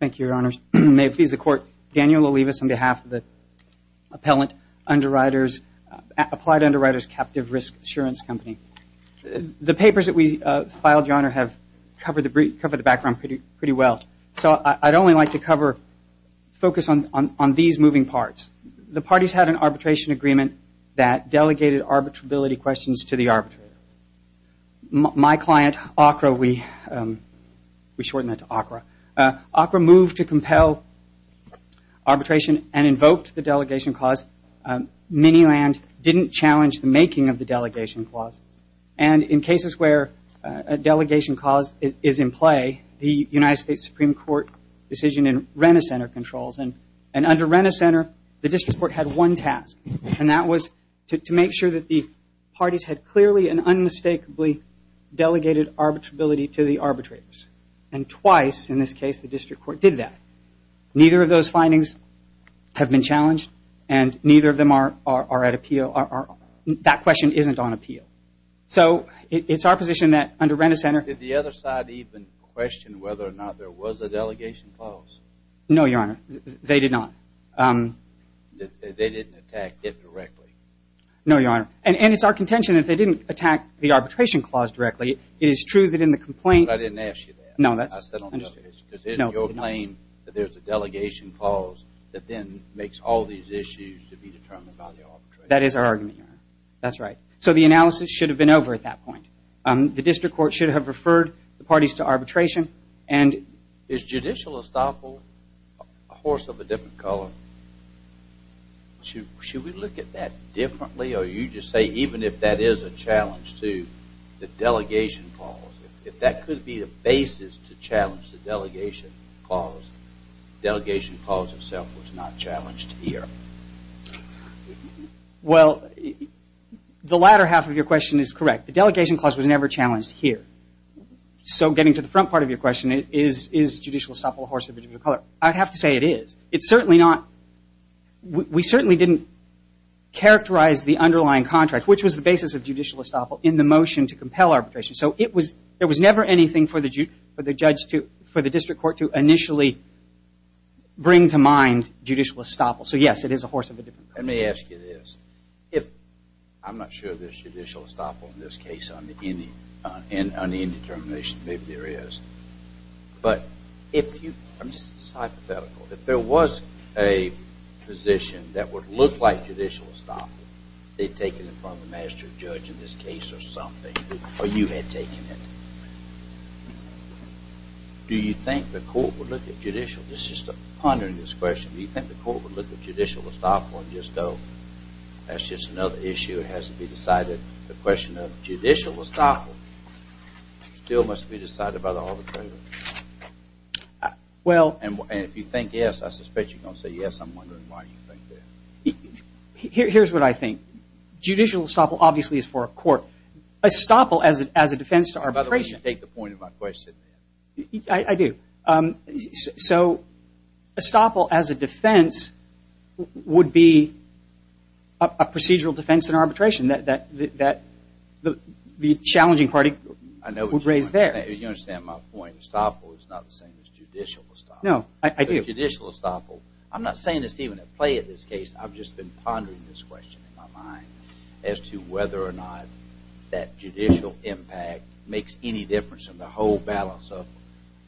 Thank you, Your Honors. May it please the Court, Daniel Olivas on behalf of the Applied Underwriters Captive Risk Assurance Company. The papers that we filed, Your Honor, have covered the background pretty well. So I'd only like to focus on these moving parts. The parties had an arbitration agreement that delegated arbitrability questions to the arbitrator. My client, ACRA, we shortened that to ACRA. ACRA moved to compel arbitration and invoked the delegation clause. Minnieland didn't challenge the making of the delegation clause. And in cases where a delegation clause is in play, the United States Supreme Court decision in Rennes Center controls. And under Rennes Center, the district court had one task, and unmistakably delegated arbitrability to the arbitrators. And twice in this case, the district court did that. Neither of those findings have been challenged, and neither of them are at appeal. That question isn't on appeal. So it's our position that under Rennes Center Did the other side even question whether or not there was a delegation clause? No, Your Honor. They did not. They didn't attack it directly? No, Your Honor. And it's our contention that they didn't attack the arbitration clause directly. It is true that in the complaint But I didn't ask you that. No, that's I said on this case. No, no. Because isn't your claim that there's a delegation clause that then makes all these issues to be determined by the arbitrator? That is our argument, Your Honor. That's right. So the analysis should have been over at that point. The district court should have referred the parties to arbitration and Is judicial estoppel a horse of a different color? Should we look at that differently? Or you just say even if that is a challenge to the delegation clause, if that could be a basis to challenge the delegation clause, the delegation clause itself was not challenged here? Well, the latter half of your question is correct. The delegation clause was never challenged here. So getting to the front part of your question, is judicial estoppel a horse of a different color? I'd have to say it is. It's certainly not. We certainly didn't characterize the underlying contract, which was the basis of judicial estoppel in the motion to compel arbitration. So there was never anything for the district court to initially bring to mind judicial estoppel. So yes, it is a horse of a different color. Let me ask you this. I'm not sure there's judicial estoppel in this case on the end determination. Maybe there is. But if you, this is hypothetical, if there was a position that would look like judicial estoppel, they'd take it in front of the master judge in this case or something. Or you had taken it. Do you think the court would look at judicial, this is just a pondering this question, do you think the court would look at judicial estoppel and just go, that's just another issue. It has to be decided. The question of judicial estoppel still must be decided by the arbitrator. And if you think yes, I suspect you're going to say yes. I'm wondering why you think that. Here's what I think. Judicial estoppel obviously is for a court. Estoppel as a defense to arbitration. You take the point of my question. I do. So estoppel as a defense would be a procedural defense in arbitration that the challenging party would raise there. You understand my point. Estoppel is not the same as judicial estoppel. No, I do. Judicial estoppel, I'm not saying it's even at play in this case. I've just been pondering this question in my mind as to whether or not that judicial impact makes any difference in the whole balance of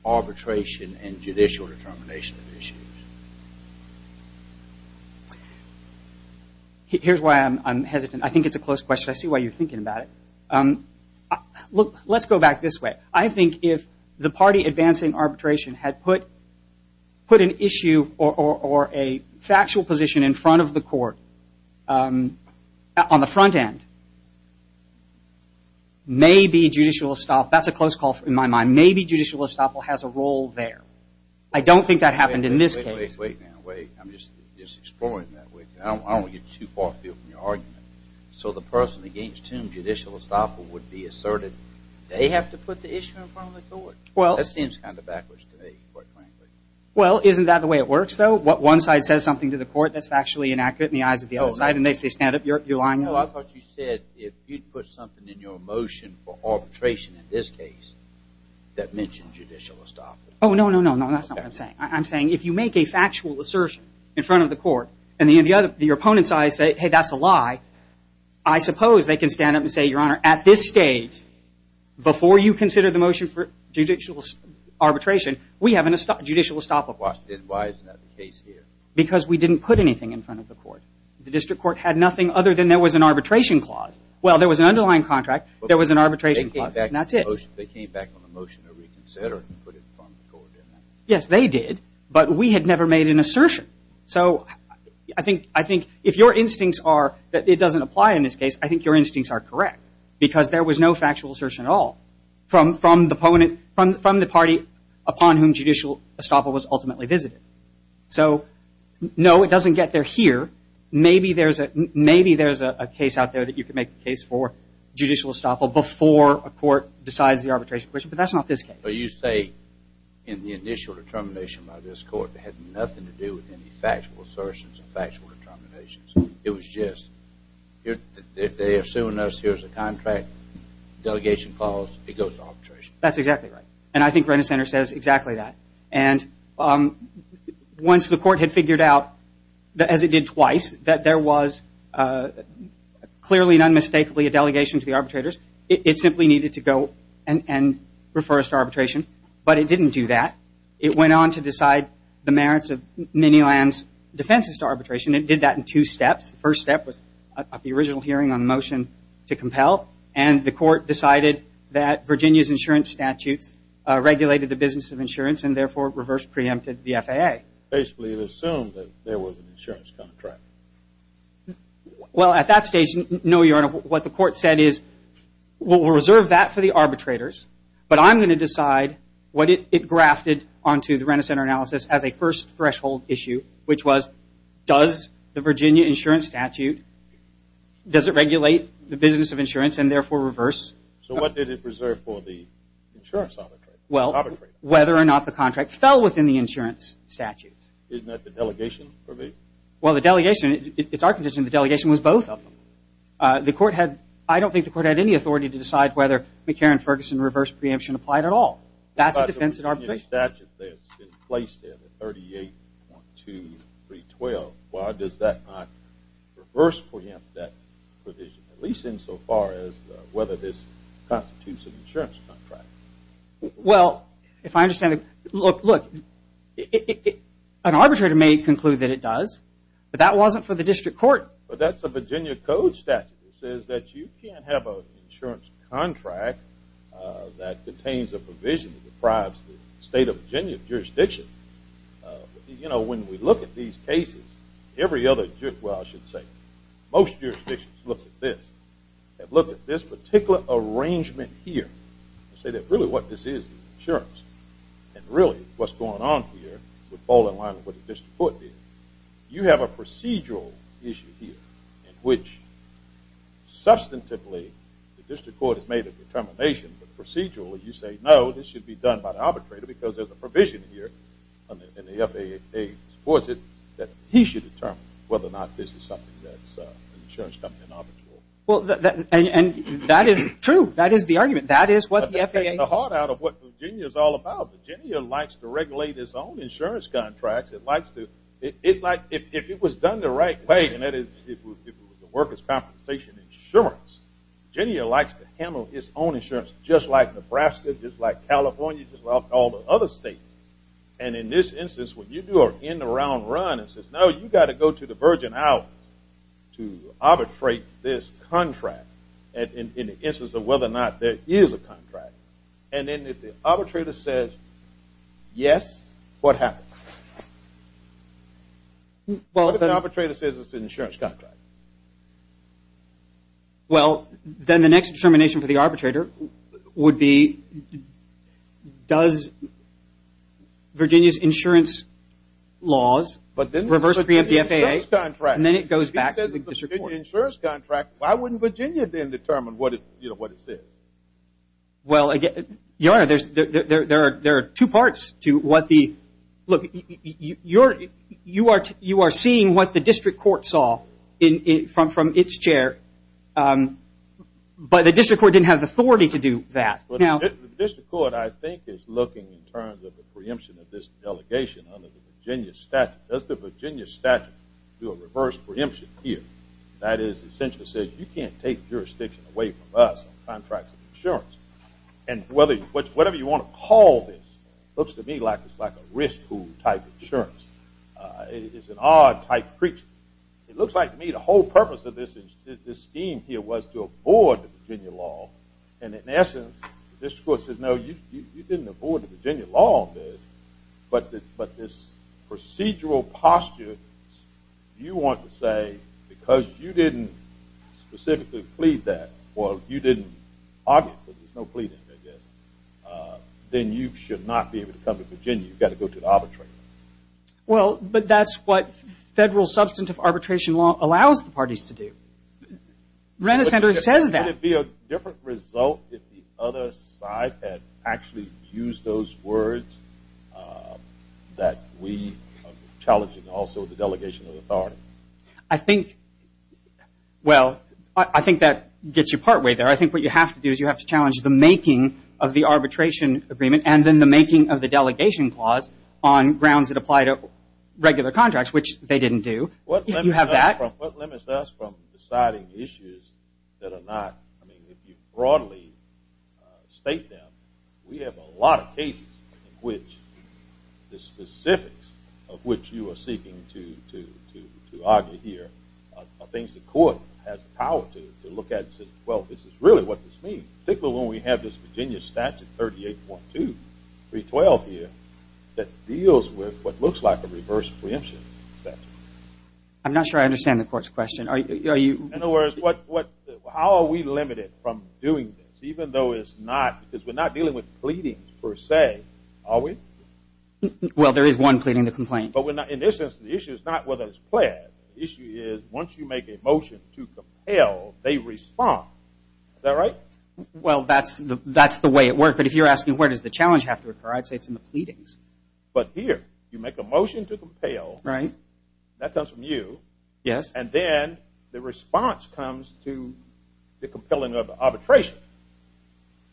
arbitration and judicial determination of issues. Here's why I'm hesitant. I think it's a close question. I see why you're thinking about it. Look, let's go back this way. I think if the party advancing arbitration had put an issue or a factual position in front of the court on the front end, maybe judicial estoppel, that's a close call in my mind. Maybe judicial estoppel has a role there. I don't think that happened in this case. Wait, wait, wait. I'm just exploring that. I don't want to get too far afield from your argument. So the person against whom judicial estoppel would be asserted, they have to put the issue in front of the court. That seems kind of backwards to me, quite frankly. Well, isn't that the way it works, though? One side says something to the court that's actually inaccurate in the eyes of the other side, and they say, stand up, you're lying. No, I thought you said if you'd put something in your motion for arbitration in this case that mentioned judicial estoppel. Oh, no, no, no, no, that's not what I'm saying. I'm saying if you make a factual assertion in front of the court and your opponent's eyes say, hey, that's a lie, I suppose they can stand up and say, Your Honor, at this stage, before you consider the motion for judicial arbitration, we have a judicial estoppel. Why is that the case here? Because we didn't put anything in front of the court. The district court had nothing other than there was an arbitration clause. Well, there was an underlying contract. There was an arbitration clause, and that's it. They came back on the motion to reconsider it and put it in front of the court, didn't they? Yes, they did. But we had never made an assertion. So I think if your instincts are that it doesn't apply in this case, I think your instincts are correct, because there was no factual assertion at all from the party upon whom the judicial estoppel was ultimately visited. So no, it doesn't get there here. Maybe there's a case out there that you can make the case for judicial estoppel before a court decides the arbitration question, but that's not this case. So you say in the initial determination by this court, it had nothing to do with any factual assertions or factual determinations. It was just, they're suing us, here's a contract, delegation clause, it goes to arbitration. That's exactly right. And I think Renner Center says exactly that. And once the court had figured out, as it did twice, that there was clearly and unmistakably a delegation to the arbitrators, it simply needed to go and refer us to arbitration. But it didn't do that. It went on to decide the merits of Miniland's defenses to arbitration, and it did that in two steps. The first step was at the original hearing on the motion to compel, and the court decided that Virginia's insurance statutes regulated the business of insurance and therefore reverse preempted the FAA. Basically, it assumed that there was an insurance contract. Well, at that stage, no, Your Honor, what the court said is, we'll reserve that for the arbitrators, but I'm going to decide what it grafted onto the Renner Center analysis as a first threshold issue, which was, does the Virginia insurance statute, does it regulate the business of insurance and therefore reverse? So what did it reserve for the insurance arbitrator? Well, whether or not the contract fell within the insurance statutes. Isn't that the delegation's provision? Well, the delegation, it's our position, the delegation was both of them. The court had, I don't think the court had any authority to decide whether McCarran-Ferguson reverse preemption applied at all. That's a defense of arbitration. But by the Virginia statute that's been placed there, the 38.2312, why does that not reverse preempt that provision, at least insofar as whether this constitutes an insurance contract? Well, if I understand it, look, an arbitrator may conclude that it does, but that wasn't for the district court. But that's a Virginia code statute that says that you can't have an insurance contract that contains a provision that deprives the state of Virginia jurisdiction. You know, when we look at these cases, every other, well, I should say, most jurisdictions look at this, have looked at this particular arrangement here, and say that really what this is is insurance. And really what's going on here would fall in line with what the district court did. You have a procedural issue here in which substantively the district court has made a determination, but procedurally you say, no, this should be done by the arbitrator because there's a provision here, and the FAA supports it, that he should determine whether or not this is something that's an insurance company and arbitral. Well, and that is true. That is the argument. That is what the FAA— But to take the heart out of what Virginia is all about, Virginia likes to regulate its own insurance contracts. It likes to—it's like if it was done the right way, and that is if it was the workers' compensation insurance, Virginia likes to handle its own insurance just like Nebraska, just like California, just like all the other states. And in this instance, when you do an in-the-round run, it says, no, you've got to go to the Virgin Islands to arbitrate this contract in the instance of whether or not there is a contract. And then if the arbitrator says yes, what happens? What if the arbitrator says it's an insurance contract? Well, then the next determination for the arbitrator would be, does Virginia's insurance laws reverse the FAA, and then it goes back to the district court. If it says it's a Virginia insurance contract, why wouldn't Virginia then determine what it says? Well, Your Honor, there are two parts to what the—look, you are seeing what the district court saw from its chair, but the district court didn't have the authority to do that. Now— The district court, I think, is looking in terms of the preemption of this delegation under the Virginia statute. Does the Virginia statute do a reverse preemption here? That is, essentially says you can't take jurisdiction away from us on contracts of insurance. And whether—whatever you want to call this, looks to me like it's like a risk pool type insurance. It's an odd type of preemption. It looks like, to me, the whole purpose of this scheme here was to avoid the Virginia law, and in essence, the district court said, no, you didn't avoid the Virginia law on this, but this procedural posture, you want to say, because you didn't specifically plead that, or you didn't argue, because there's no pleading, I guess, then you should not be able to come to Virginia. You've got to go to the arbitration. Well, but that's what federal substantive arbitration law allows the parties to do. Renishandra says that. Would it be a different result if the other side had actually used those words that we are challenging also the delegation of authority? I think—well, I think that gets you partway there. I think what you have to do is you have to challenge the making of the arbitration agreement and then the making of the delegation clause on grounds that apply to regular contracts, which they didn't do. You have that. What limits us from deciding issues that are not—I mean, if you broadly state them, we have a lot of cases in which the specifics of which you are seeking to argue here are things the court has the power to look at and say, well, this is really what this means, particularly when we have this Virginia statute 38.2, 312 here, that deals with what looks like a reverse preemption statute. I'm not sure I understand the court's question. Are you— In other words, what—how are we limited from doing this, even though it's not—because we're not dealing with pleadings per se, are we? Well, there is one pleading the complaint. But we're not—in this instance, the issue is not whether it's pled. The issue is once you make a motion to compel, they respond. Is that right? Well, that's the way it works. But if you're asking where does the challenge have to occur, I'd say it's in the pleadings. But here, you make a motion to compel. Right. That comes from you. Yes. And then the response comes to the compelling of arbitration.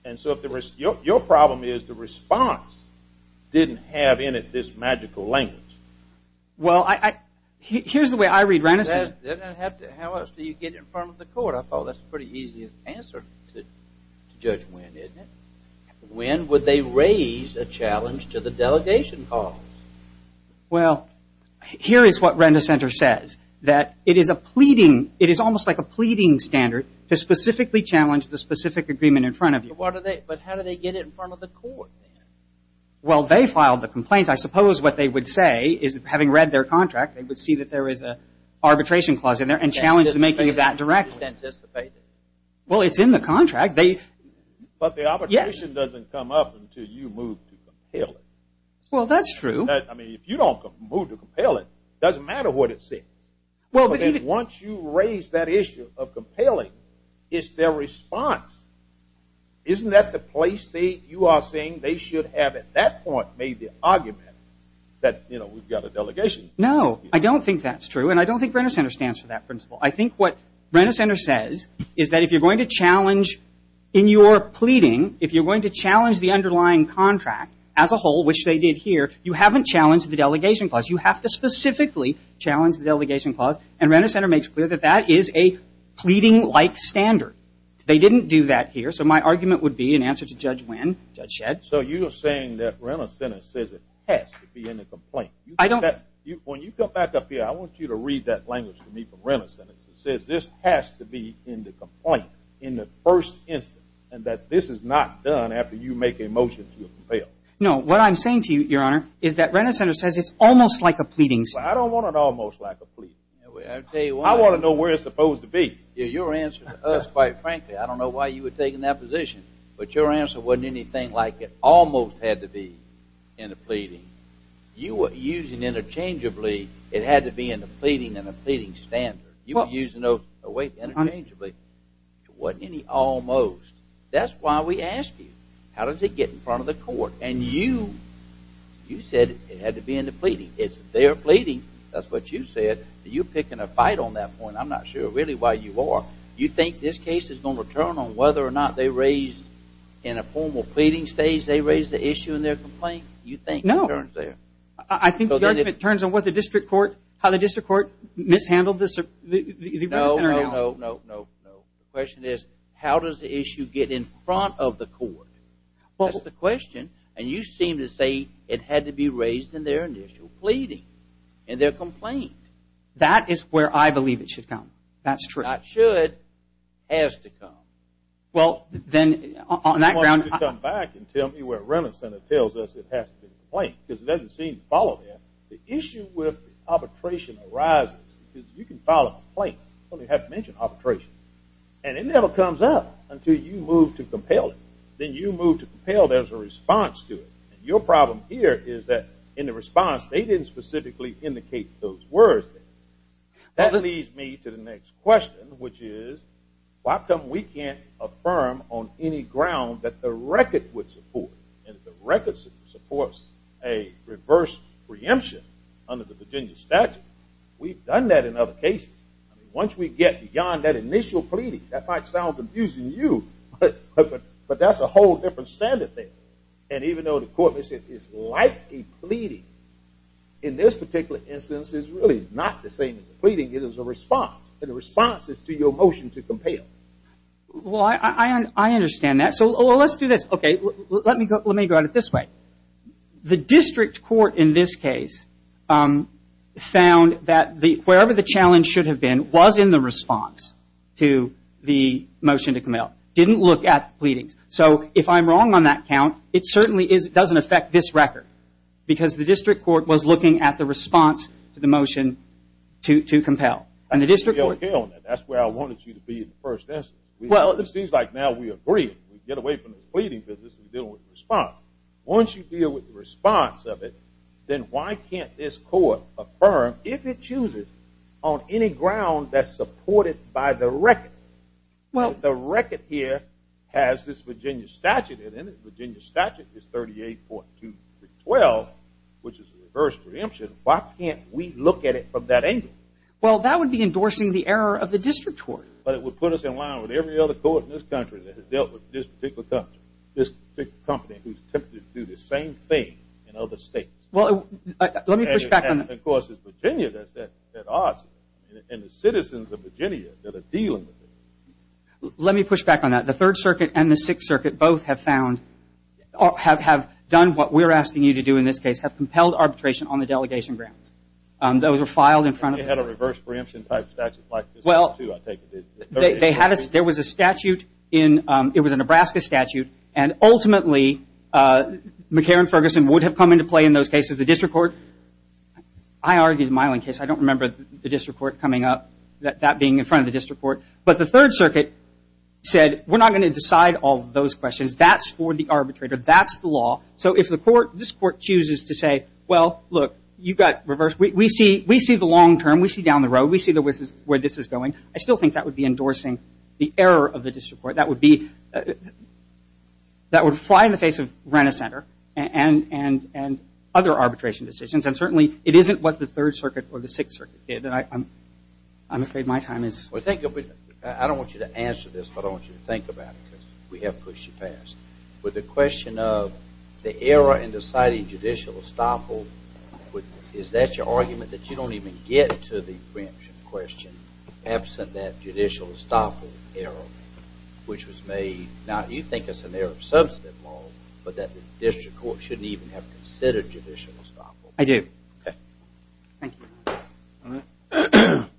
And so if the—your problem is the response didn't have in it this magical language. Well, I—here's the way I read Renison. How else do you get it in front of the court? I thought that's a pretty easy answer to judge when, isn't it? When would they raise a challenge to the delegation calls? Well, here is what Renisonter says, that it is a pleading—it is almost like a pleading standard to specifically challenge the specific agreement in front of you. But how do they get it in front of the court? Well, they filed the complaint. I suppose what they would say is, having read their contract, they would see that there was an arbitration clause in there and challenge the making of that directly. Well, it's in the contract. But the arbitration doesn't come up until you move to compel it. Well, that's true. I mean, if you don't move to compel it, it doesn't matter what it says. Once you raise that issue of compelling, it's their response. Isn't that the place that you are saying they should have at that point made the argument that, you know, we've got a delegation? No. I don't think that's true, and I don't think Renisonter stands for that principle. I think what Renisonter says is that if you're going to challenge in your pleading, if you're going to challenge the underlying contract as a whole, which they did here, you haven't challenged the delegation clause. You have to specifically challenge the delegation clause. And Renisonter makes clear that that is a pleading-like standard. They didn't do that here, so my argument would be in answer to Judge Wynn, Judge Shedd. So you are saying that Renisonter says it has to be in the complaint. When you come back up here, I want you to read that language to me from Renisonter. It says this has to be in the complaint in the first instance and that this is not done after you make a motion to compel. No. What I'm saying to you, Your Honor, is that Renisonter says it's almost like a pleading. Well, I don't want an almost like a pleading. I want to know where it's supposed to be. Your answer to us, quite frankly, I don't know why you were taking that position, but your answer wasn't anything like it almost had to be in a pleading. You were using interchangeably it had to be in a pleading and a pleading standard. You were using it interchangeably. It wasn't any almost. That's why we asked you, how does it get in front of the court? And you said it had to be in the pleading. It's their pleading. That's what you said. You're picking a fight on that point. I'm not sure really why you are. You think this case is going to return on whether or not they raised in a formal pleading stage they raised the issue in their complaint? You think? No. I think the argument turns on how the district court mishandled this. No, no, no, no. The question is how does the issue get in front of the court? That's the question. And you seem to say it had to be raised in their initial pleading in their complaint. That is where I believe it should come. That's true. Not should, has to come. Well, then on that ground… You want to come back and tell me where Remington tells us it has to be in the complaint because it doesn't seem to follow that. The issue with arbitration arises because you can file a complaint but you have to mention arbitration. And it never comes up until you move to compel it. Then you move to compel, there's a response to it. And your problem here is that in the response they didn't specifically indicate those words there. That leads me to the next question, which is, why can't we affirm on any ground that the record would support and if the record supports a reverse preemption under the Virginia statute, we've done that in other cases. Once we get beyond that initial pleading, that might sound confusing to you, but that's a whole different standard there. And even though the court may say it's like a pleading, in this particular instance it's really not the same as a pleading, it is a response. And the response is to your motion to compel. Well, I understand that. So let's do this. Okay, let me go at it this way. The district court in this case found that wherever the challenge should have been was in the response to the motion to compel. Didn't look at the pleadings. So if I'm wrong on that count, it certainly doesn't affect this record because the district court was looking at the response to the motion to compel. That's where I wanted you to be in the first instance. Well, it seems like now we agree. We can get away from the pleading business and deal with the response. Once you deal with the response of it, then why can't this court affirm if it chooses on any ground that's supported by the record? Well, the record here has this Virginia statute in it. The Virginia statute is 38.212, which is a reverse preemption. Why can't we look at it from that angle? Well, that would be endorsing the error of the district court. But it would put us in line with every other court in this country that has dealt with this particular company who's tempted to do the same thing in other states. Well, let me push back on that. And, of course, it's Virginia that's at odds and the citizens of Virginia that are dealing with it. Let me push back on that. The Third Circuit and the Sixth Circuit both have found or have done what we're asking you to do in this case, have compelled arbitration on the delegation grounds. Those were filed in front of the court. They had a reverse preemption type statute like this one, too, I take it. There was a statute in ñ it was a Nebraska statute. And, ultimately, McCarran-Ferguson would have come into play in those cases. The district court ñ I argued the Miling case. I don't remember the district court coming up, that being in front of the district court. But the Third Circuit said, we're not going to decide all those questions. That's for the arbitrator. That's the law. So if the court ñ this court chooses to say, well, look, you've got reverse. We see the long term. We see down the road. We see where this is going. I still think that would be endorsing the error of the district court. That would be ñ that would fly in the face of Renner Center and other arbitration decisions. And, certainly, it isn't what the Third Circuit or the Sixth Circuit did. I'm afraid my time is ñ I don't want you to answer this, but I want you to think about it. We have pushed you past. With the question of the error in deciding judicial estoppel, is that your argument, that you don't even get to the preemption question, absent that judicial estoppel error, which was made ñ now, you think it's an error of substantive law, but that the district court shouldn't even have considered judicial estoppel. I do. Okay. Thank you. All right.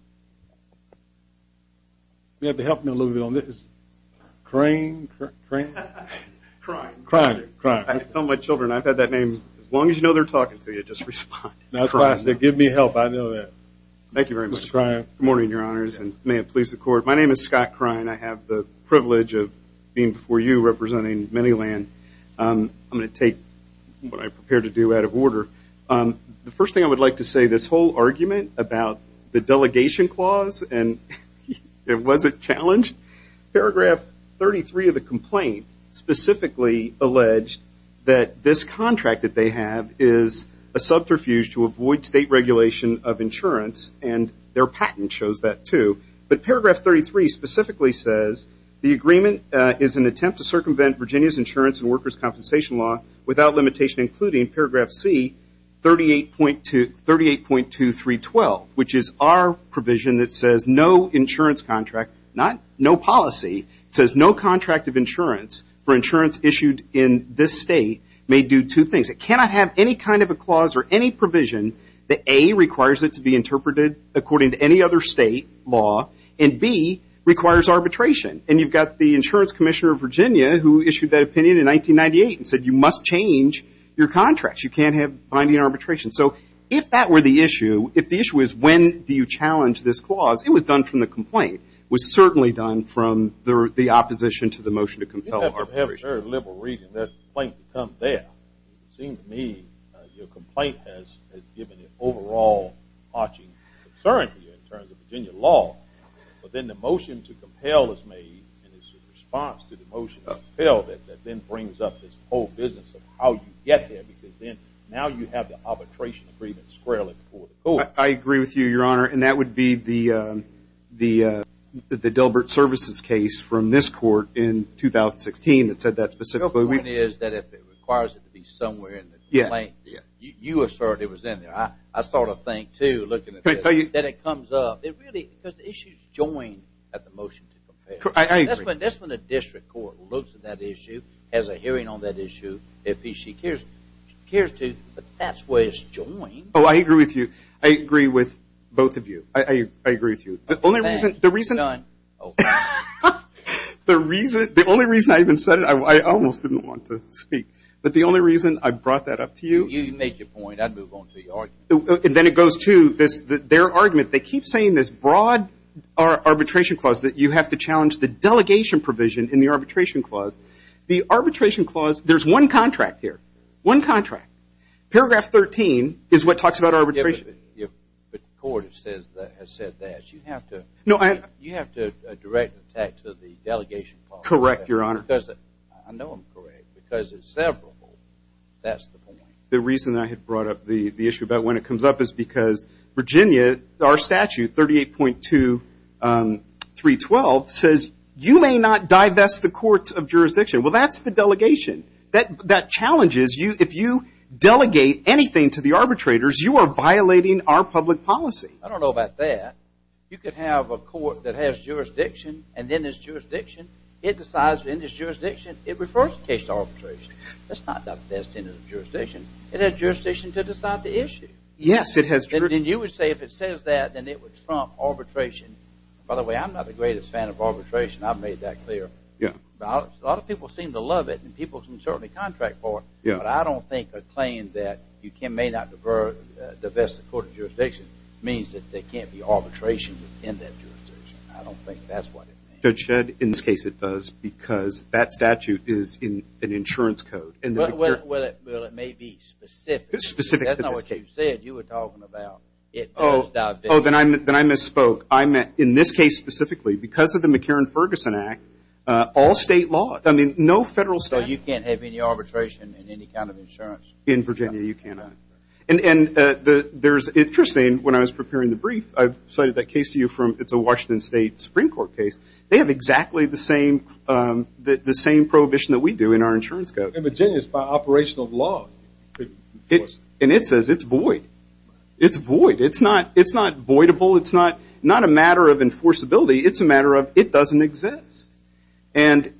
You have to help me a little bit on this. Crine. Crine. Crine. Crine. I tell my children, I've had that name as long as you know they're talking to you. Just respond. Crine. Give me help. I know that. Thank you very much. Mr. Crine. Good morning, Your Honors, and may it please the Court. My name is Scott Crine. I have the privilege of being before you representing Manyland. I'm going to take what I'm prepared to do out of order. The first thing I would like to say, this whole argument about the delegation clause, and was it challenged? Paragraph 33 of the complaint specifically alleged that this contract that they have is a subterfuge to avoid state regulation of insurance, and their patent shows that too. But Paragraph 33 specifically says, the agreement is an attempt to circumvent Virginia's insurance law without limitation, including Paragraph C, 38.2312, which is our provision that says no insurance contract, no policy. It says no contract of insurance for insurance issued in this state may do two things. It cannot have any kind of a clause or any provision that, A, requires it to be interpreted according to any other state law, and, B, requires arbitration. And you've got the insurance commissioner of Virginia who issued that opinion in 1998 and said you must change your contract. You can't have binding arbitration. So if that were the issue, if the issue was when do you challenge this clause, it was done from the complaint. It was certainly done from the opposition to the motion to compel arbitration. You have a very liberal reading. That complaint can come there. It seems to me your complaint has given an overall arching concern to you in terms of Virginia law. But then the motion to compel is made in response to the motion to compel that then brings up this whole business of how you get there because now you have the arbitration agreement squarely before the court. I agree with you, Your Honor, and that would be the Dilbert Services case from this court in 2016 that said that specifically. The point is that if it requires it to be somewhere in the complaint, you assert it was in there. I sort of think, too, looking at this, that it comes up. Because the issue is joined at the motion to compel. I agree. That's when a district court looks at that issue, has a hearing on that issue. If she cares to, that's why it's joined. I agree with you. I agree with both of you. I agree with you. The only reason I even said it, I almost didn't want to speak. But the only reason I brought that up to you. You make your point. I move on to your argument. Then it goes to their argument. They keep saying this broad arbitration clause that you have to challenge the delegation provision in the arbitration clause. The arbitration clause, there's one contract here, one contract. Paragraph 13 is what talks about arbitration. But the court has said that. You have to direct the tax of the delegation clause. Correct, Your Honor. I know I'm correct. Because it's severable, that's the point. The reason I had brought up the issue about when it comes up is because Virginia, our statute, 38.2312, says you may not divest the courts of jurisdiction. Well, that's the delegation. That challenges you. If you delegate anything to the arbitrators, you are violating our public policy. I don't know about that. You could have a court that has jurisdiction and then there's jurisdiction. It decides there's jurisdiction. It refers to case arbitration. That's not divesting of jurisdiction. It has jurisdiction to decide the issue. Yes, it has. And you would say if it says that, then it would trump arbitration. By the way, I'm not the greatest fan of arbitration. I've made that clear. A lot of people seem to love it, and people can certainly contract for it. But I don't think a claim that you may not divest the court of jurisdiction means that there can't be arbitration in that jurisdiction. I don't think that's what it means. Judge Shedd, in this case it does because that statute is in an insurance code. Well, it may be specific. It's specific to this case. That's not what you said you were talking about. It does divest. Oh, then I misspoke. In this case specifically, because of the McCarran-Ferguson Act, all state law. I mean, no federal statute. So you can't have any arbitration in any kind of insurance? In Virginia, you cannot. And there's interesting, when I was preparing the brief, I cited that case to you from, it's a Washington State Supreme Court case. They have exactly the same prohibition that we do in our insurance code. In Virginia, it's by operational law. And it says it's void. It's void. It's not voidable. It's not a matter of enforceability. It's a matter of it doesn't exist. And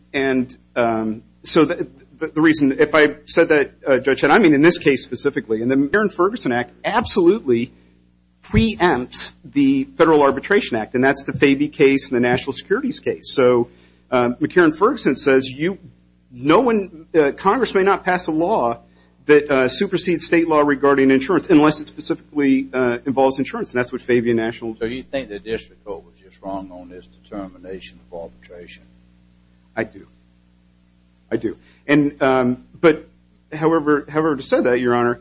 so the reason, if I said that, Judge Shedd, I mean in this case specifically. And the McCarran-Ferguson Act absolutely preempts the Federal Arbitration Act. And that's the Fabie case and the National Securities case. So McCarran-Ferguson says you, no one, Congress may not pass a law that supersedes state law regarding insurance, unless it specifically involves insurance. And that's what Fabie and National. So you think the district code was just wrong on this determination of arbitration? I do. I do. But however to say that, Your Honor,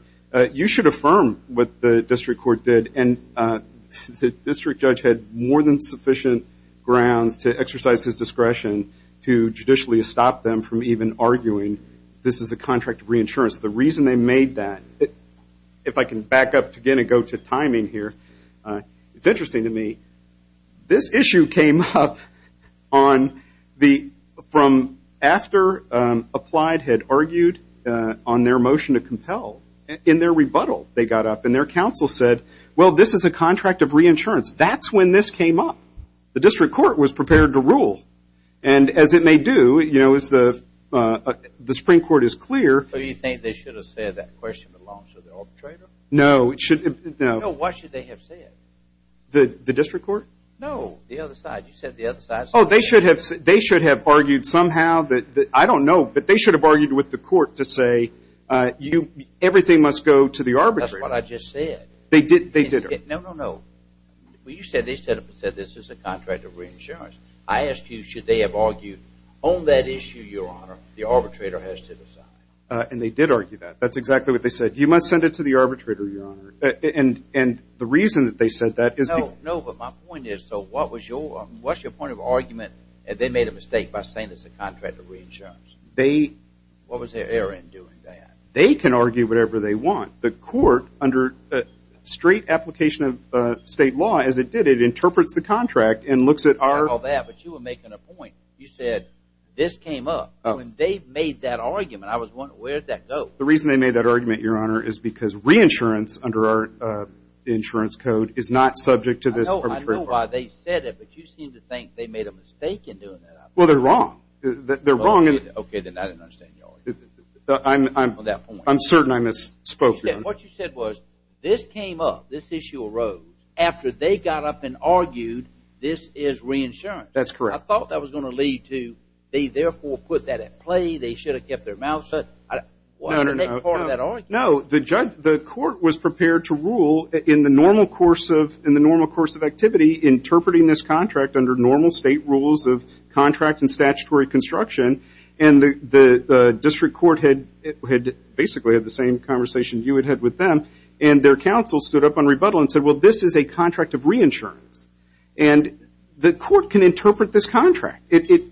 you should affirm what the district court did. And the district judge had more than sufficient grounds to exercise his discretion to judicially stop them from even arguing this is a contract of reinsurance. The reason they made that, if I can back up again and go to timing here, it's interesting to me. This issue came up from after Applied had argued on their motion to compel. In their rebuttal, they got up and their counsel said, well, this is a contract of reinsurance. That's when this came up. The district court was prepared to rule. And as it may do, you know, the Supreme Court is clear. Do you think they should have said that question along with the arbitrator? No. No, what should they have said? The district court? No, the other side. You said the other side. Oh, they should have argued somehow. I don't know, but they should have argued with the court to say everything must go to the arbitrator. That's what I just said. They did. No, no, no. Well, you said they said this is a contract of reinsurance. I asked you should they have argued on that issue, Your Honor, the arbitrator has to decide. And they did argue that. That's exactly what they said. You must send it to the arbitrator, Your Honor. And the reason that they said that is because – No, but my point is, so what's your point of argument that they made a mistake by saying it's a contract of reinsurance? They – What was their error in doing that? They can argue whatever they want. The court, under straight application of state law, as it did, it interprets the contract and looks at our – I didn't call that, but you were making a point. You said this came up. When they made that argument, I was wondering where did that go? The reason they made that argument, Your Honor, is because reinsurance under our insurance code is not subject to this arbitration. I know why they said it, but you seem to think they made a mistake in doing that. Well, they're wrong. They're wrong in – Okay, then I didn't understand your argument. I'm – On that point. I'm certain I misspoke, Your Honor. What you said was this came up, this issue arose after they got up and argued this is reinsurance. That's correct. I thought that was going to lead to they therefore put that at play, they should have kept their mouths shut. No, the court was prepared to rule in the normal course of activity, interpreting this contract under normal state rules of contract and statutory construction, and the district court had basically had the same conversation you had had with them, and their counsel stood up on rebuttal and said, well, this is a contract of reinsurance, and the court can interpret this contract. It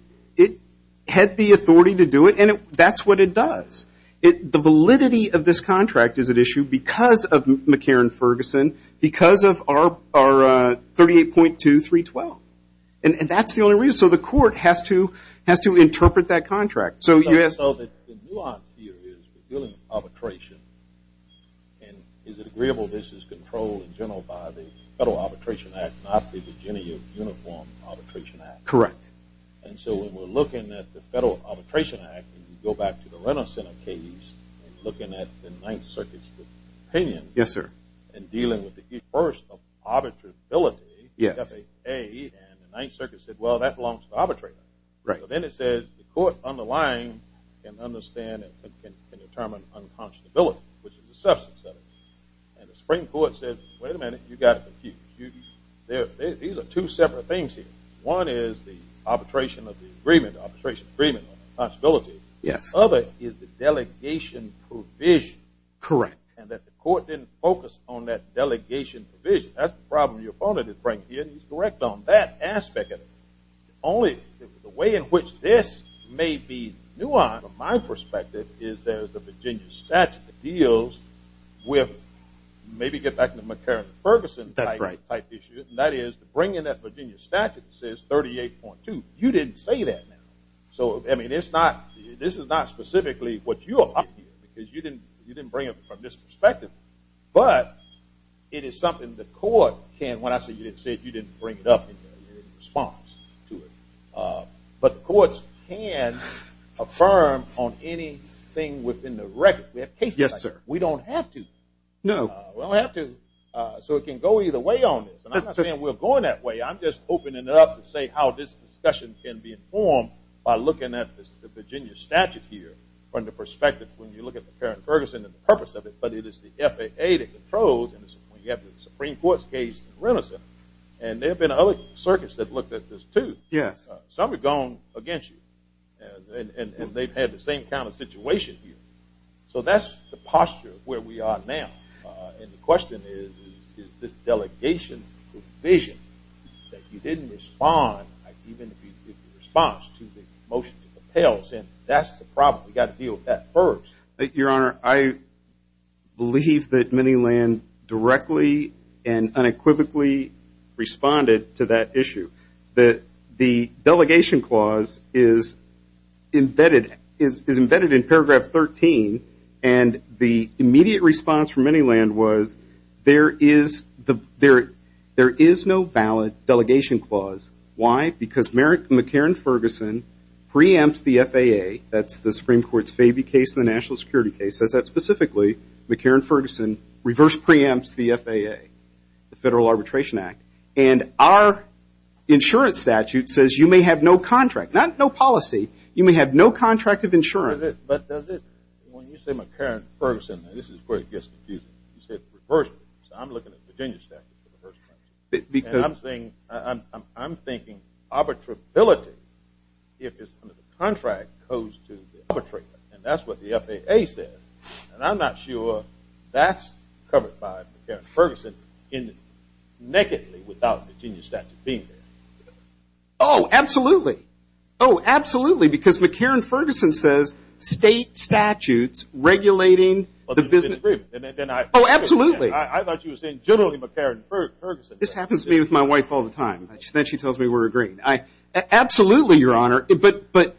had the authority to do it, and that's what it does. The validity of this contract is at issue because of McCarran-Ferguson, because of our 38.2312, and that's the only reason. So the court has to interpret that contract. So you – So the nuance here is the billing arbitration, and is it agreeable this is controlled in general by the Federal Arbitration Act, not the Virginia Uniform Arbitration Act? Correct. And so when we're looking at the Federal Arbitration Act, and you go back to the Renner Center case and looking at the Ninth Circuit's opinion in dealing with the first of arbitrability, and the Ninth Circuit said, well, that belongs to the arbitrator. So then it says the court underlying can understand and can determine unconscionability, which is the substance of it. And the Supreme Court said, wait a minute, you've got it confused. These are two separate things here. One is the arbitration of the agreement, arbitration of the agreement on unconscionability. Yes. The other is the delegation provision. Correct. And that the court didn't focus on that delegation provision. That's the problem. Your opponent is right here, and he's correct on that aspect of it. Only the way in which this may be nuanced from my perspective is there's the Virginia statute that deals with maybe get back to the McCarran-Ferguson type issue, and that is to bring in that Virginia statute that says 38.2. You didn't say that. So, I mean, this is not specifically what you're arguing, because you didn't bring it from this perspective. But it is something the court can, when I say you didn't say it, you didn't bring it up in response to it. But the courts can affirm on anything within the record. We have cases like that. Yes, sir. We don't have to. No. We don't have to. So it can go either way on this. And I'm not saying we're going that way. I'm just opening it up to say how this discussion can be informed by looking at the Virginia statute here from the perspective when you look at the McCarran-Ferguson and the purpose of it. But it is the FAA that controls, and you have the Supreme Court's case in Renison, and there have been other circuits that looked at this too. Yes. Some have gone against you, and they've had the same kind of situation here. So that's the posture of where we are now. And the question is, is this delegation provision that you didn't respond, even if you did the response to the motion to compel. That's the problem. We've got to deal with that first. Your Honor, I believe that Miniland directly and unequivocally responded to that issue. The delegation clause is embedded in paragraph 13, and the immediate response from Miniland was there is no valid delegation clause. Why? Because McCarran-Ferguson preempts the FAA. That's the Supreme Court's Fabee case and the national security case. It says that specifically, McCarran-Ferguson reverse preempts the FAA, the Federal Arbitration Act. And our insurance statute says you may have no contract, not no policy. You may have no contract of insurance. When you say McCarran-Ferguson, this is where it gets confusing. You said reverse. So I'm looking at Virginia statute for the first time. And I'm thinking arbitrability if the contract goes to the arbitrator. And that's what the FAA says. And I'm not sure that's covered by McCarran-Ferguson nakedly without Virginia statute being there. Oh, absolutely. Oh, absolutely. Because McCarran-Ferguson says state statutes regulating the business agreement. Oh, absolutely. I thought you were saying generally McCarran-Ferguson. This happens to me with my wife all the time. She tells me we're agreeing. Absolutely, Your Honor. But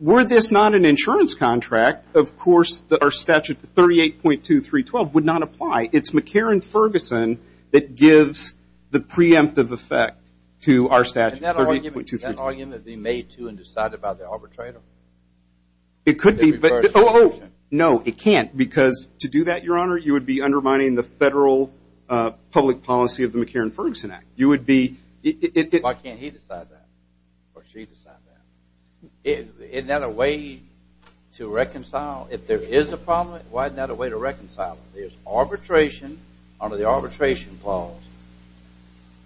were this not an insurance contract, of course our statute 38.2312 would not apply. It's McCarran-Ferguson that gives the preemptive effect to our statute 38.2312. Isn't that an argument to be made to and decided by the arbitrator? It could be. No, it can't because to do that, Your Honor, you would be undermining the federal public policy of the McCarran-Ferguson Act. Why can't he decide that or she decide that? Isn't that a way to reconcile? If there is a problem, why isn't that a way to reconcile? There's arbitration under the arbitration clause.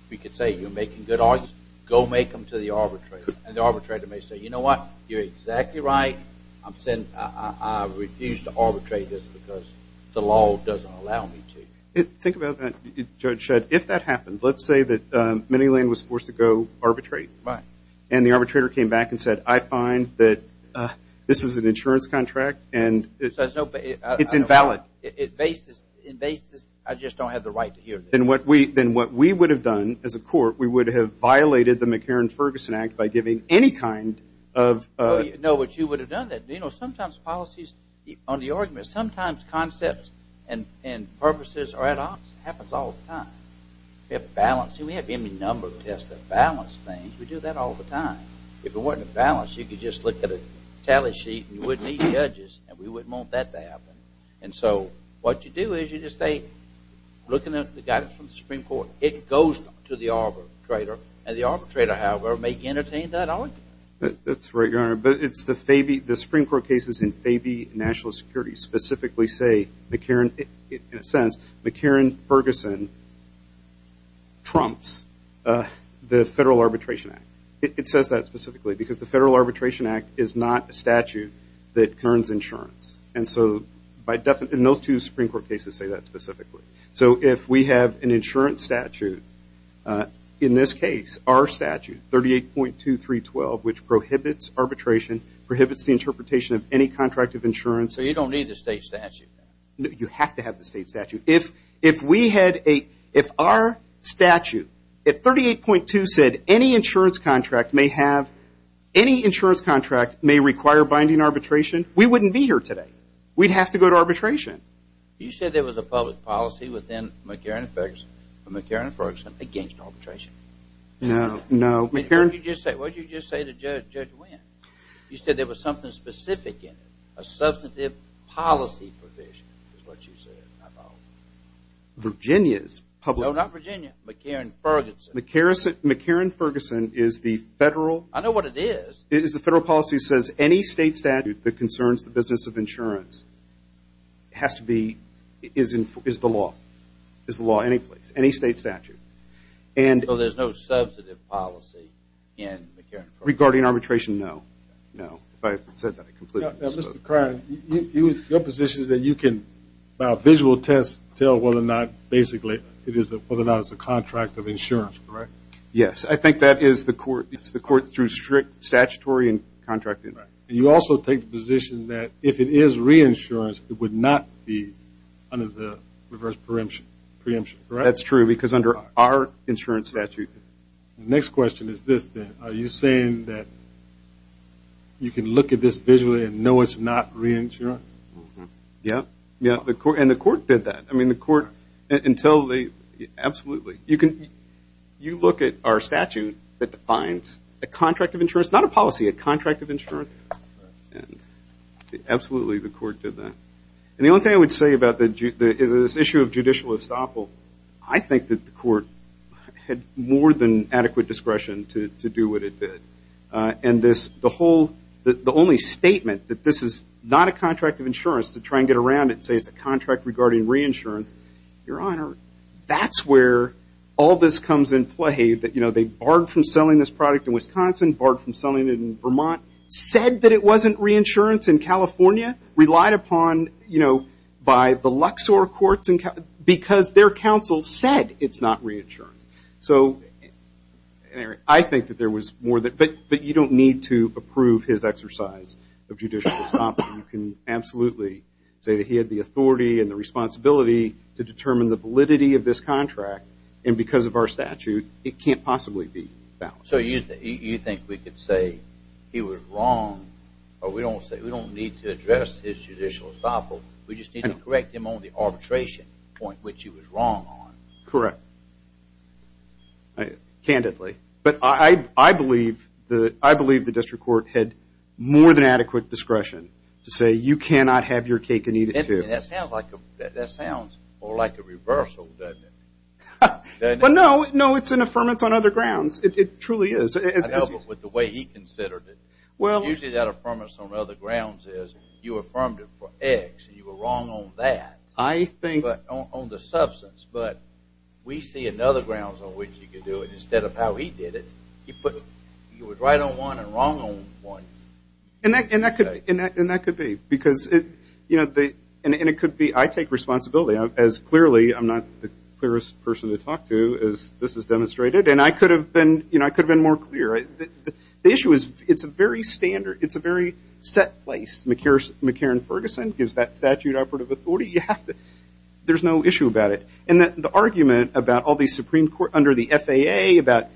We could say you're making good arguments. Go make them to the arbitrator. And the arbitrator may say, you know what, you're exactly right. I refuse to arbitrate this because the law doesn't allow me to. Think about that, Judge Shedd. If that happened, let's say that Manyland was forced to go arbitrate. Right. And the arbitrator came back and said, I find that this is an insurance contract and it's invalid. In basis, I just don't have the right to hear this. Then what we would have done as a court, we would have violated the McCarran-Ferguson Act by giving any kind of ---- No, but you would have done that. Sometimes policies on the argument, sometimes concepts and purposes are at odds. It happens all the time. We have balance. We have any number of tests that balance things. We do that all the time. If it wasn't balanced, you could just look at a tally sheet and you wouldn't need the edges and we wouldn't want that to happen. And so what you do is you just say, looking at the guidance from the Supreme Court, it goes to the arbitrator and the arbitrator, however, may entertain that argument. That's right, Your Honor. But it's the FABI, the Supreme Court cases in FABI, National Security, specifically say McCarran, in a sense, McCarran-Ferguson trumps the Federal Arbitration Act. It says that specifically because the Federal Arbitration Act is not a statute that concerns insurance. And so in those two Supreme Court cases say that specifically. So if we have an insurance statute, in this case, our statute, 38.2312, which prohibits arbitration, prohibits the interpretation of any contract of insurance. So you don't need the state statute? You have to have the state statute. If our statute, if 38.2 said any insurance contract may require binding arbitration, we wouldn't be here today. We'd have to go to arbitration. You said there was a public policy within McCarran-Ferguson, McCarran-Ferguson against arbitration. No, no. What did you just say to Judge Wynn? You said there was something specific in it, a substantive policy provision is what you said. Virginia's public policy. No, not Virginia, McCarran-Ferguson. McCarran-Ferguson is the Federal. I know what it is. It is the Federal policy that says any state statute that concerns the business of insurance has to be, is the law, is the law any place, any state statute. So there's no substantive policy in McCarran-Ferguson? Regarding arbitration, no, no. If I had said that, I'd complete it. Mr. Kriner, your position is that you can, by a visual test, tell whether or not basically it is a contract of insurance, correct? Yes. I think that is the court through strict statutory and contract. And you also take the position that if it is reinsurance, it would not be under the reverse preemption, correct? That's true because under our insurance statute. The next question is this, then. Are you saying that you can look at this visually and know it's not reinsurance? Yes. And the court did that. I mean, the court, until they, absolutely. You look at our statute that defines a contract of insurance, not a policy, a contract of insurance, and absolutely the court did that. And the only thing I would say about this issue of judicial estoppel, I think that the court had more than adequate discretion to do what it did. And the only statement that this is not a contract of insurance to try and get around it and say it's a contract regarding reinsurance, your Honor, that's where all this comes in play. They barred from selling this product in Wisconsin, barred from selling it in Vermont, said that it wasn't reinsurance in California, relied upon by the Luxor courts because their counsel said it's not reinsurance. So I think that there was more than that. But you don't need to approve his exercise of judicial estoppel. You can absolutely say that he had the authority and the responsibility to determine the validity of this contract. And because of our statute, it can't possibly be found. So you think we could say he was wrong, or we don't need to address his judicial estoppel, we just need to correct him on the arbitration point, which he was wrong on. Correct. Candidly. But I believe the district court had more than adequate discretion to say you cannot have your cake and eat it too. That sounds more like a reversal, doesn't it? Well, no, it's an affirmance on other grounds. It truly is. I know, but with the way he considered it. Usually that affirmance on other grounds is you affirmed it for X, and you were wrong on that, on the substance. But we see another grounds on which you could do it. Instead of how he did it, he was right on one and wrong on one. And that could be, because it could be I take responsibility. Clearly, I'm not the clearest person to talk to, as this has demonstrated. And I could have been more clear. The issue is it's a very set place. McCarran Ferguson gives that statute operative authority. There's no issue about it. And the argument about all these Supreme Court, under the FAA, about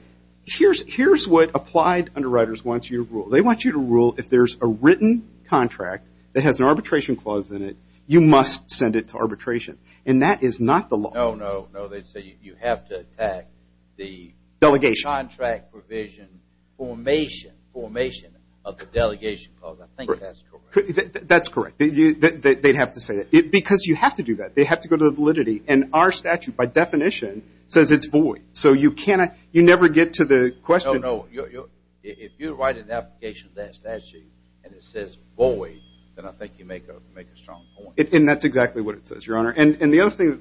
here's what applied underwriters want you to rule. They want you to rule if there's a written contract that has an arbitration clause in it, you must send it to arbitration. And that is not the law. No, no, no. They'd say you have to attack the contract provision formation of the delegation clause. I think that's correct. That's correct. They'd have to say that. Because you have to do that. They have to go to the validity. And our statute, by definition, says it's void. So you never get to the question. No, no. If you write an application to that statute and it says void, then I think you make a strong point. And that's exactly what it says, Your Honor. And the other thing,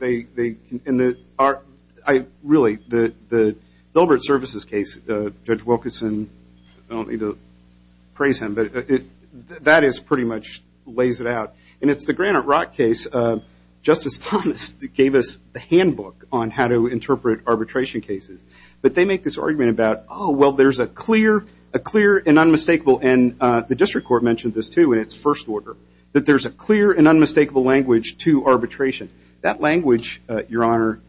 really, the Dilbert Services case, Judge Wilkerson, I don't mean to praise him, but that pretty much lays it out. And it's the Granite Rock case. Justice Thomas gave us the handbook on how to interpret arbitration cases. But they make this argument about, oh, well, there's a clear and unmistakable, and the district court mentioned this, too, in its first order, that there's a clear and unmistakable language to arbitration. That language, Your Honor,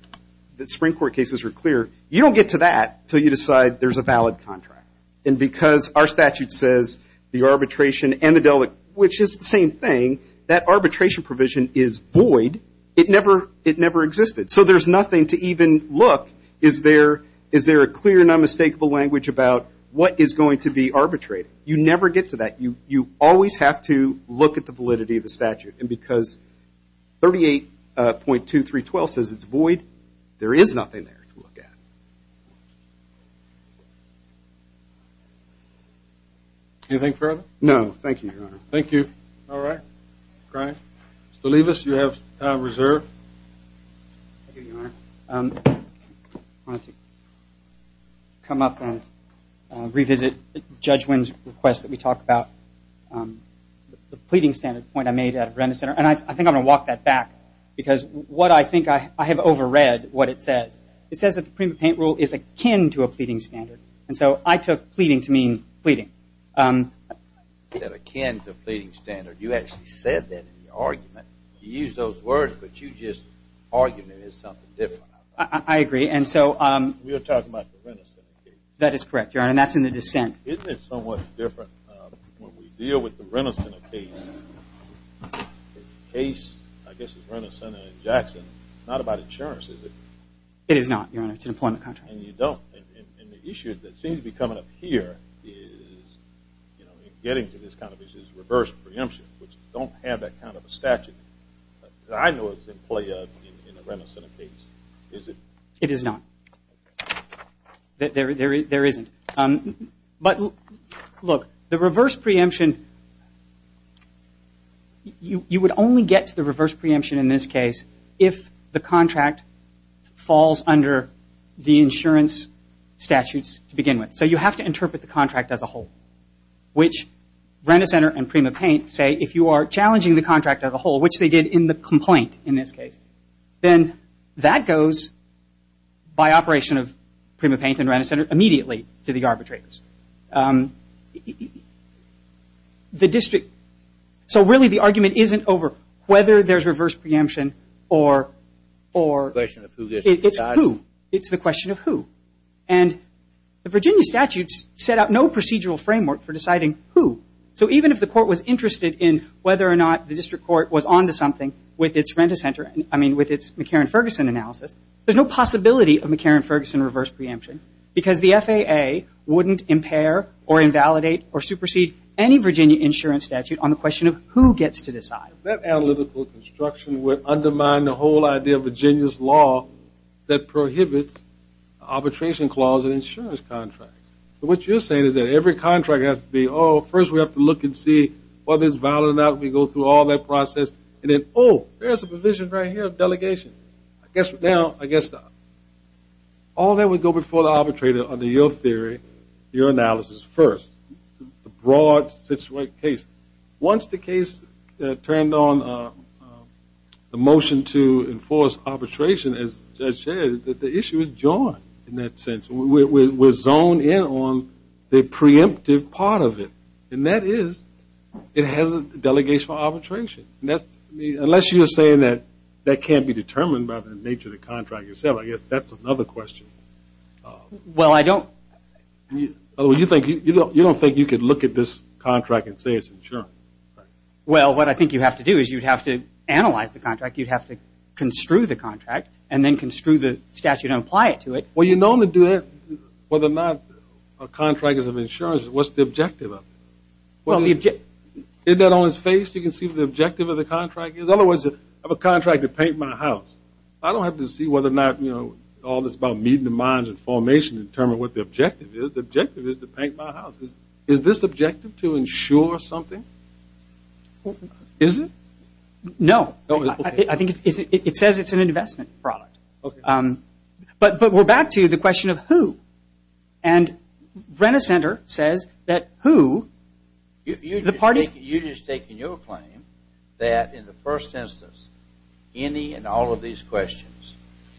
the Supreme Court cases are clear. You don't get to that until you decide there's a valid contract. And because our statute says the arbitration and the Dilbert, which is the same thing, that arbitration provision is void. It never existed. So there's nothing to even look. Is there a clear and unmistakable language about what is going to be arbitrated? You never get to that. You always have to look at the validity of the statute. And because 38.2312 says it's void, there is nothing there to look at. Anything further? No, thank you, Your Honor. Thank you. All right. All right. Mr. Leibovitz, you have time reserved. Thank you, Your Honor. I want to come up and revisit Judge Wynn's request that we talked about, the pleading standard point I made at Varenda Center. And I think I'm going to walk that back because what I think I have overread what it says. It says that the pre-paint rule is akin to a pleading standard. And so I took pleading to mean pleading. It's akin to a pleading standard. You actually said that in your argument. You used those words, but you just argued it as something different. I agree. We were talking about the Rent-A-Center case. That is correct, Your Honor, and that's in the dissent. Isn't it somewhat different when we deal with the Rent-A-Center case? The case, I guess, is Rent-A-Center and Jackson. It's not about insurance, is it? It is not, Your Honor. It's an employment contract. And you don't. And the issue that seems to be coming up here is, you know, in getting to this kind of issue is reverse preemption, which don't have that kind of statute. I know it's in play in the Rent-A-Center case. Is it? It is not. There isn't. But, look, the reverse preemption, you would only get to the reverse preemption in this case if the contract falls under the insurance statutes to begin with. So you have to interpret the contract as a whole, which Rent-A-Center and PrimaPaint say, if you are challenging the contract as a whole, which they did in the complaint in this case, then that goes, by operation of PrimaPaint and Rent-A-Center, immediately to the arbitrators. The district – so, really, the argument isn't over whether there's reverse preemption or – It's a question of who gets to decide. It's who. It's the question of who. And the Virginia statutes set out no procedural framework for deciding who. So even if the court was interested in whether or not the district court was on to something with its Rent-A-Center – I mean, with its McCarran-Ferguson analysis, there's no possibility of McCarran-Ferguson reverse preemption because the FAA wouldn't impair or invalidate or supersede any Virginia insurance statute on the question of who gets to decide. That analytical construction would undermine the whole idea of Virginia's law that prohibits arbitration clause in insurance contracts. So what you're saying is that every contract has to be, oh, first we have to look and see whether it's valid or not. We go through all that process. And then, oh, there's a provision right here of delegation. Now, I guess all that would go before the arbitrator under your theory, your analysis first, the broad case. Once the case turned on the motion to enforce arbitration, as the judge said, the issue is joined in that sense. We're zoned in on the preemptive part of it, and that is it has a delegation for arbitration. Unless you're saying that that can't be determined by the nature of the contract itself, I guess that's another question. Well, I don't. You don't think you could look at this contract and say it's insurance? Well, what I think you have to do is you'd have to analyze the contract. You'd have to construe the contract and then construe the statute and apply it to it. Well, you're known to do that whether or not a contract is of insurance. What's the objective of it? Is that on his face? You can see the objective of the contract. In other words, I have a contract to paint my house. I don't have to see whether or not, you know, all this about meeting the minds and formation to determine what the objective is. The objective is to paint my house. Is this objective to insure something? Is it? No. I think it says it's an investment product. But we're back to the question of who. And Brenner Center says that who? You've just taken your claim that in the first instance, any and all of these questions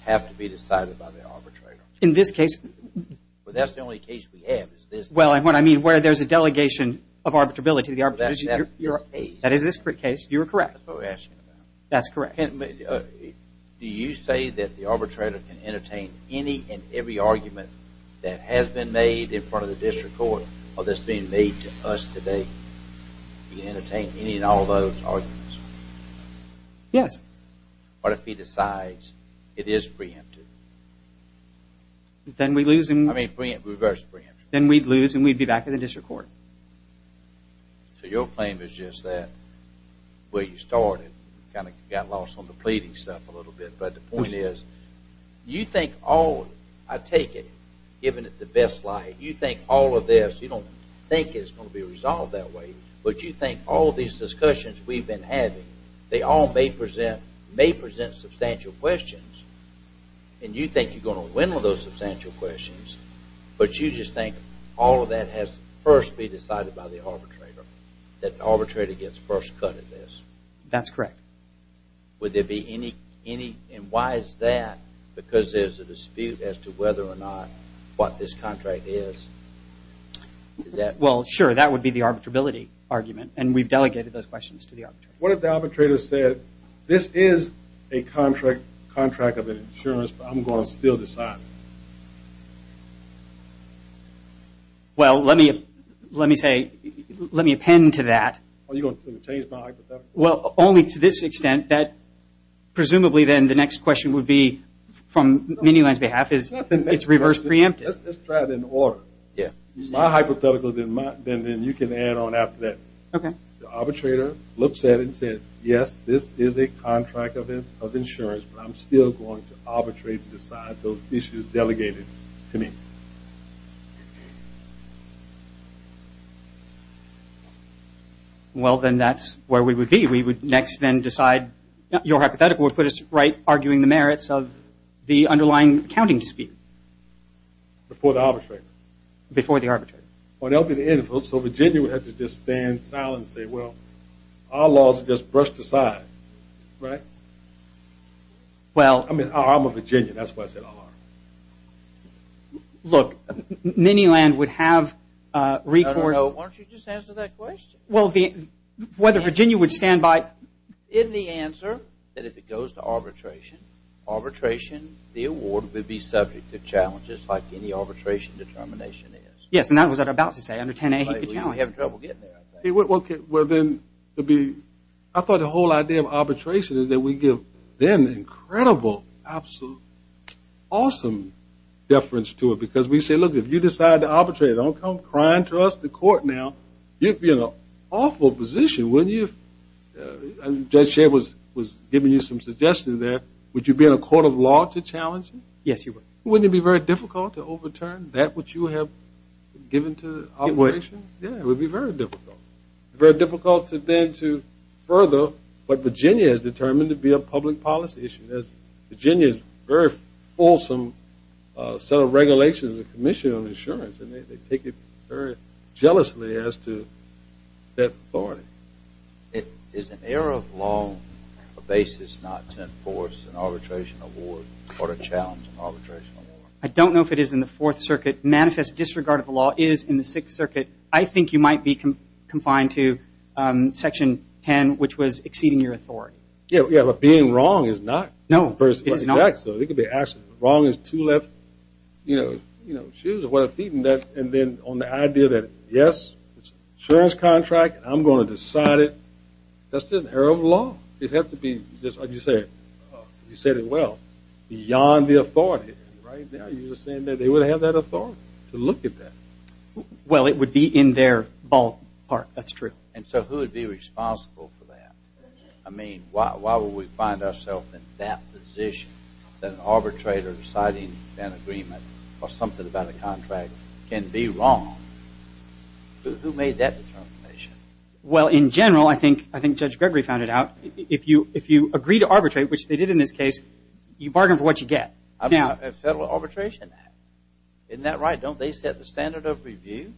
have to be decided by the arbitrator. In this case? Well, that's the only case we have is this. Well, what I mean where there's a delegation of arbitrability. That is this case. That is this case. You're correct. That's what we're asking about. That's correct. Do you say that the arbitrator can entertain any and every argument that has been made in front of the district court or that's being made to us today? Can he entertain any and all of those arguments? Yes. What if he decides it is preempted? Then we'd lose and we'd be back in the district court. So your claim is just that where you started, kind of got lost on the pleading stuff a little bit, but the point is you think all of it, I take it, given it the best light, you think all of this, you don't think it's going to be resolved that way, but you think all these discussions we've been having, they all may present substantial questions, and you think you're going to win with those substantial questions, but you just think all of that has first been decided by the arbitrator, that the arbitrator gets first cut at this. That's correct. Would there be any, and why is that? Because there's a dispute as to whether or not what this contract is. Well, sure, that would be the arbitrability argument, and we've delegated those questions to the arbitrator. What if the arbitrator said, this is a contract of insurance, but I'm going to still decide? Well, let me say, let me append to that. Oh, you're going to change my hypothetical? Well, only to this extent that presumably then the next question would be, from Minuland's behalf, is it's reverse preemptive. Let's try it in order. My hypothetical, then you can add on after that. Okay. What if the arbitrator looked at it and said, yes, this is a contract of insurance, but I'm still going to arbitrate and decide those issues delegated to me? Well, then that's where we would be. We would next then decide, your hypothetical would put us right, arguing the merits of the underlying accounting dispute. Before the arbitrator? Before the arbitrator. So Virginia would have to just stand silent and say, well, our laws are just brushed aside, right? I'm a Virginian. That's why I said our. Look, Minuland would have recourse. No, no, no. Why don't you just answer that question? Well, whether Virginia would stand by it. In the answer, that if it goes to arbitration, arbitration, the award would be subject to challenges, like any arbitration determination is. Yes, and that was what I was about to say. Under 10A, he could generally have trouble getting there. Okay. Well, then I thought the whole idea of arbitration is that we give them an incredible, absolute, awesome deference to it. Because we say, look, if you decide to arbitrate, don't come crying to us, the court, now. You'd be in an awful position, wouldn't you? Judge Shea was giving you some suggestions there. Would you be in a court of law to challenge him? Yes, you would. Wouldn't it be very difficult to overturn that, what you have given to arbitration? Yeah, it would be very difficult. Very difficult then to further what Virginia is determined to be a public policy issue. Virginia is a very fulsome set of regulations, a commission on insurance, and they take it very jealously as to that authority. Is an error of law a basis not to enforce an arbitration award or to challenge an arbitration award? I don't know if it is in the Fourth Circuit. Manifest disregard of the law is in the Sixth Circuit. I think you might be confined to Section 10, which was exceeding your authority. Yeah, but being wrong is not. No, it's not. Wrong is two left shoes or what have you, and then on the idea that, yes, it's an insurance contract, I'm going to decide it, that's an error of law. It has to be, just like you said, you said it well, beyond the authority. Right now you're saying that they would have that authority to look at that. Well, it would be in their ballpark, that's true. And so who would be responsible for that? I mean, why would we find ourselves in that position that an arbitrator deciding an agreement or something about a contract can be wrong? Who made that determination? Well, in general, I think Judge Gregory found it out. If you agree to arbitrate, which they did in this case, you bargain for what you get. Federal Arbitration Act. Isn't that right? Don't they set the standard of review?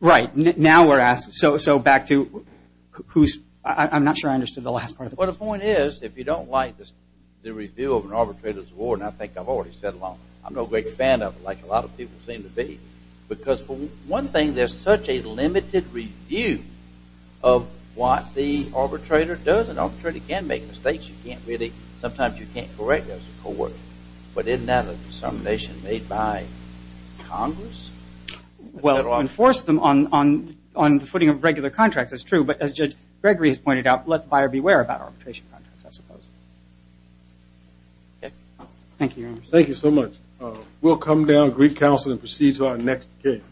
Right. Now we're asked, so back to who's – I'm not sure I understood the last part. Well, the point is, if you don't like the review of an arbitrator's award, and I think I've already said a lot, I'm no great fan of it, like a lot of people seem to be, because, for one thing, there's such a limited review of what the arbitrator does. An arbitrator can make mistakes. Sometimes you can't really – sometimes you can't correct as a court. But isn't that a determination made by Congress? Well, to enforce them on the footing of regular contracts is true, but as Judge Gregory has pointed out, let the buyer beware about arbitration contracts, I suppose. Thank you, Your Honor. Thank you so much. We'll come down, greet counsel, and proceed to our next case.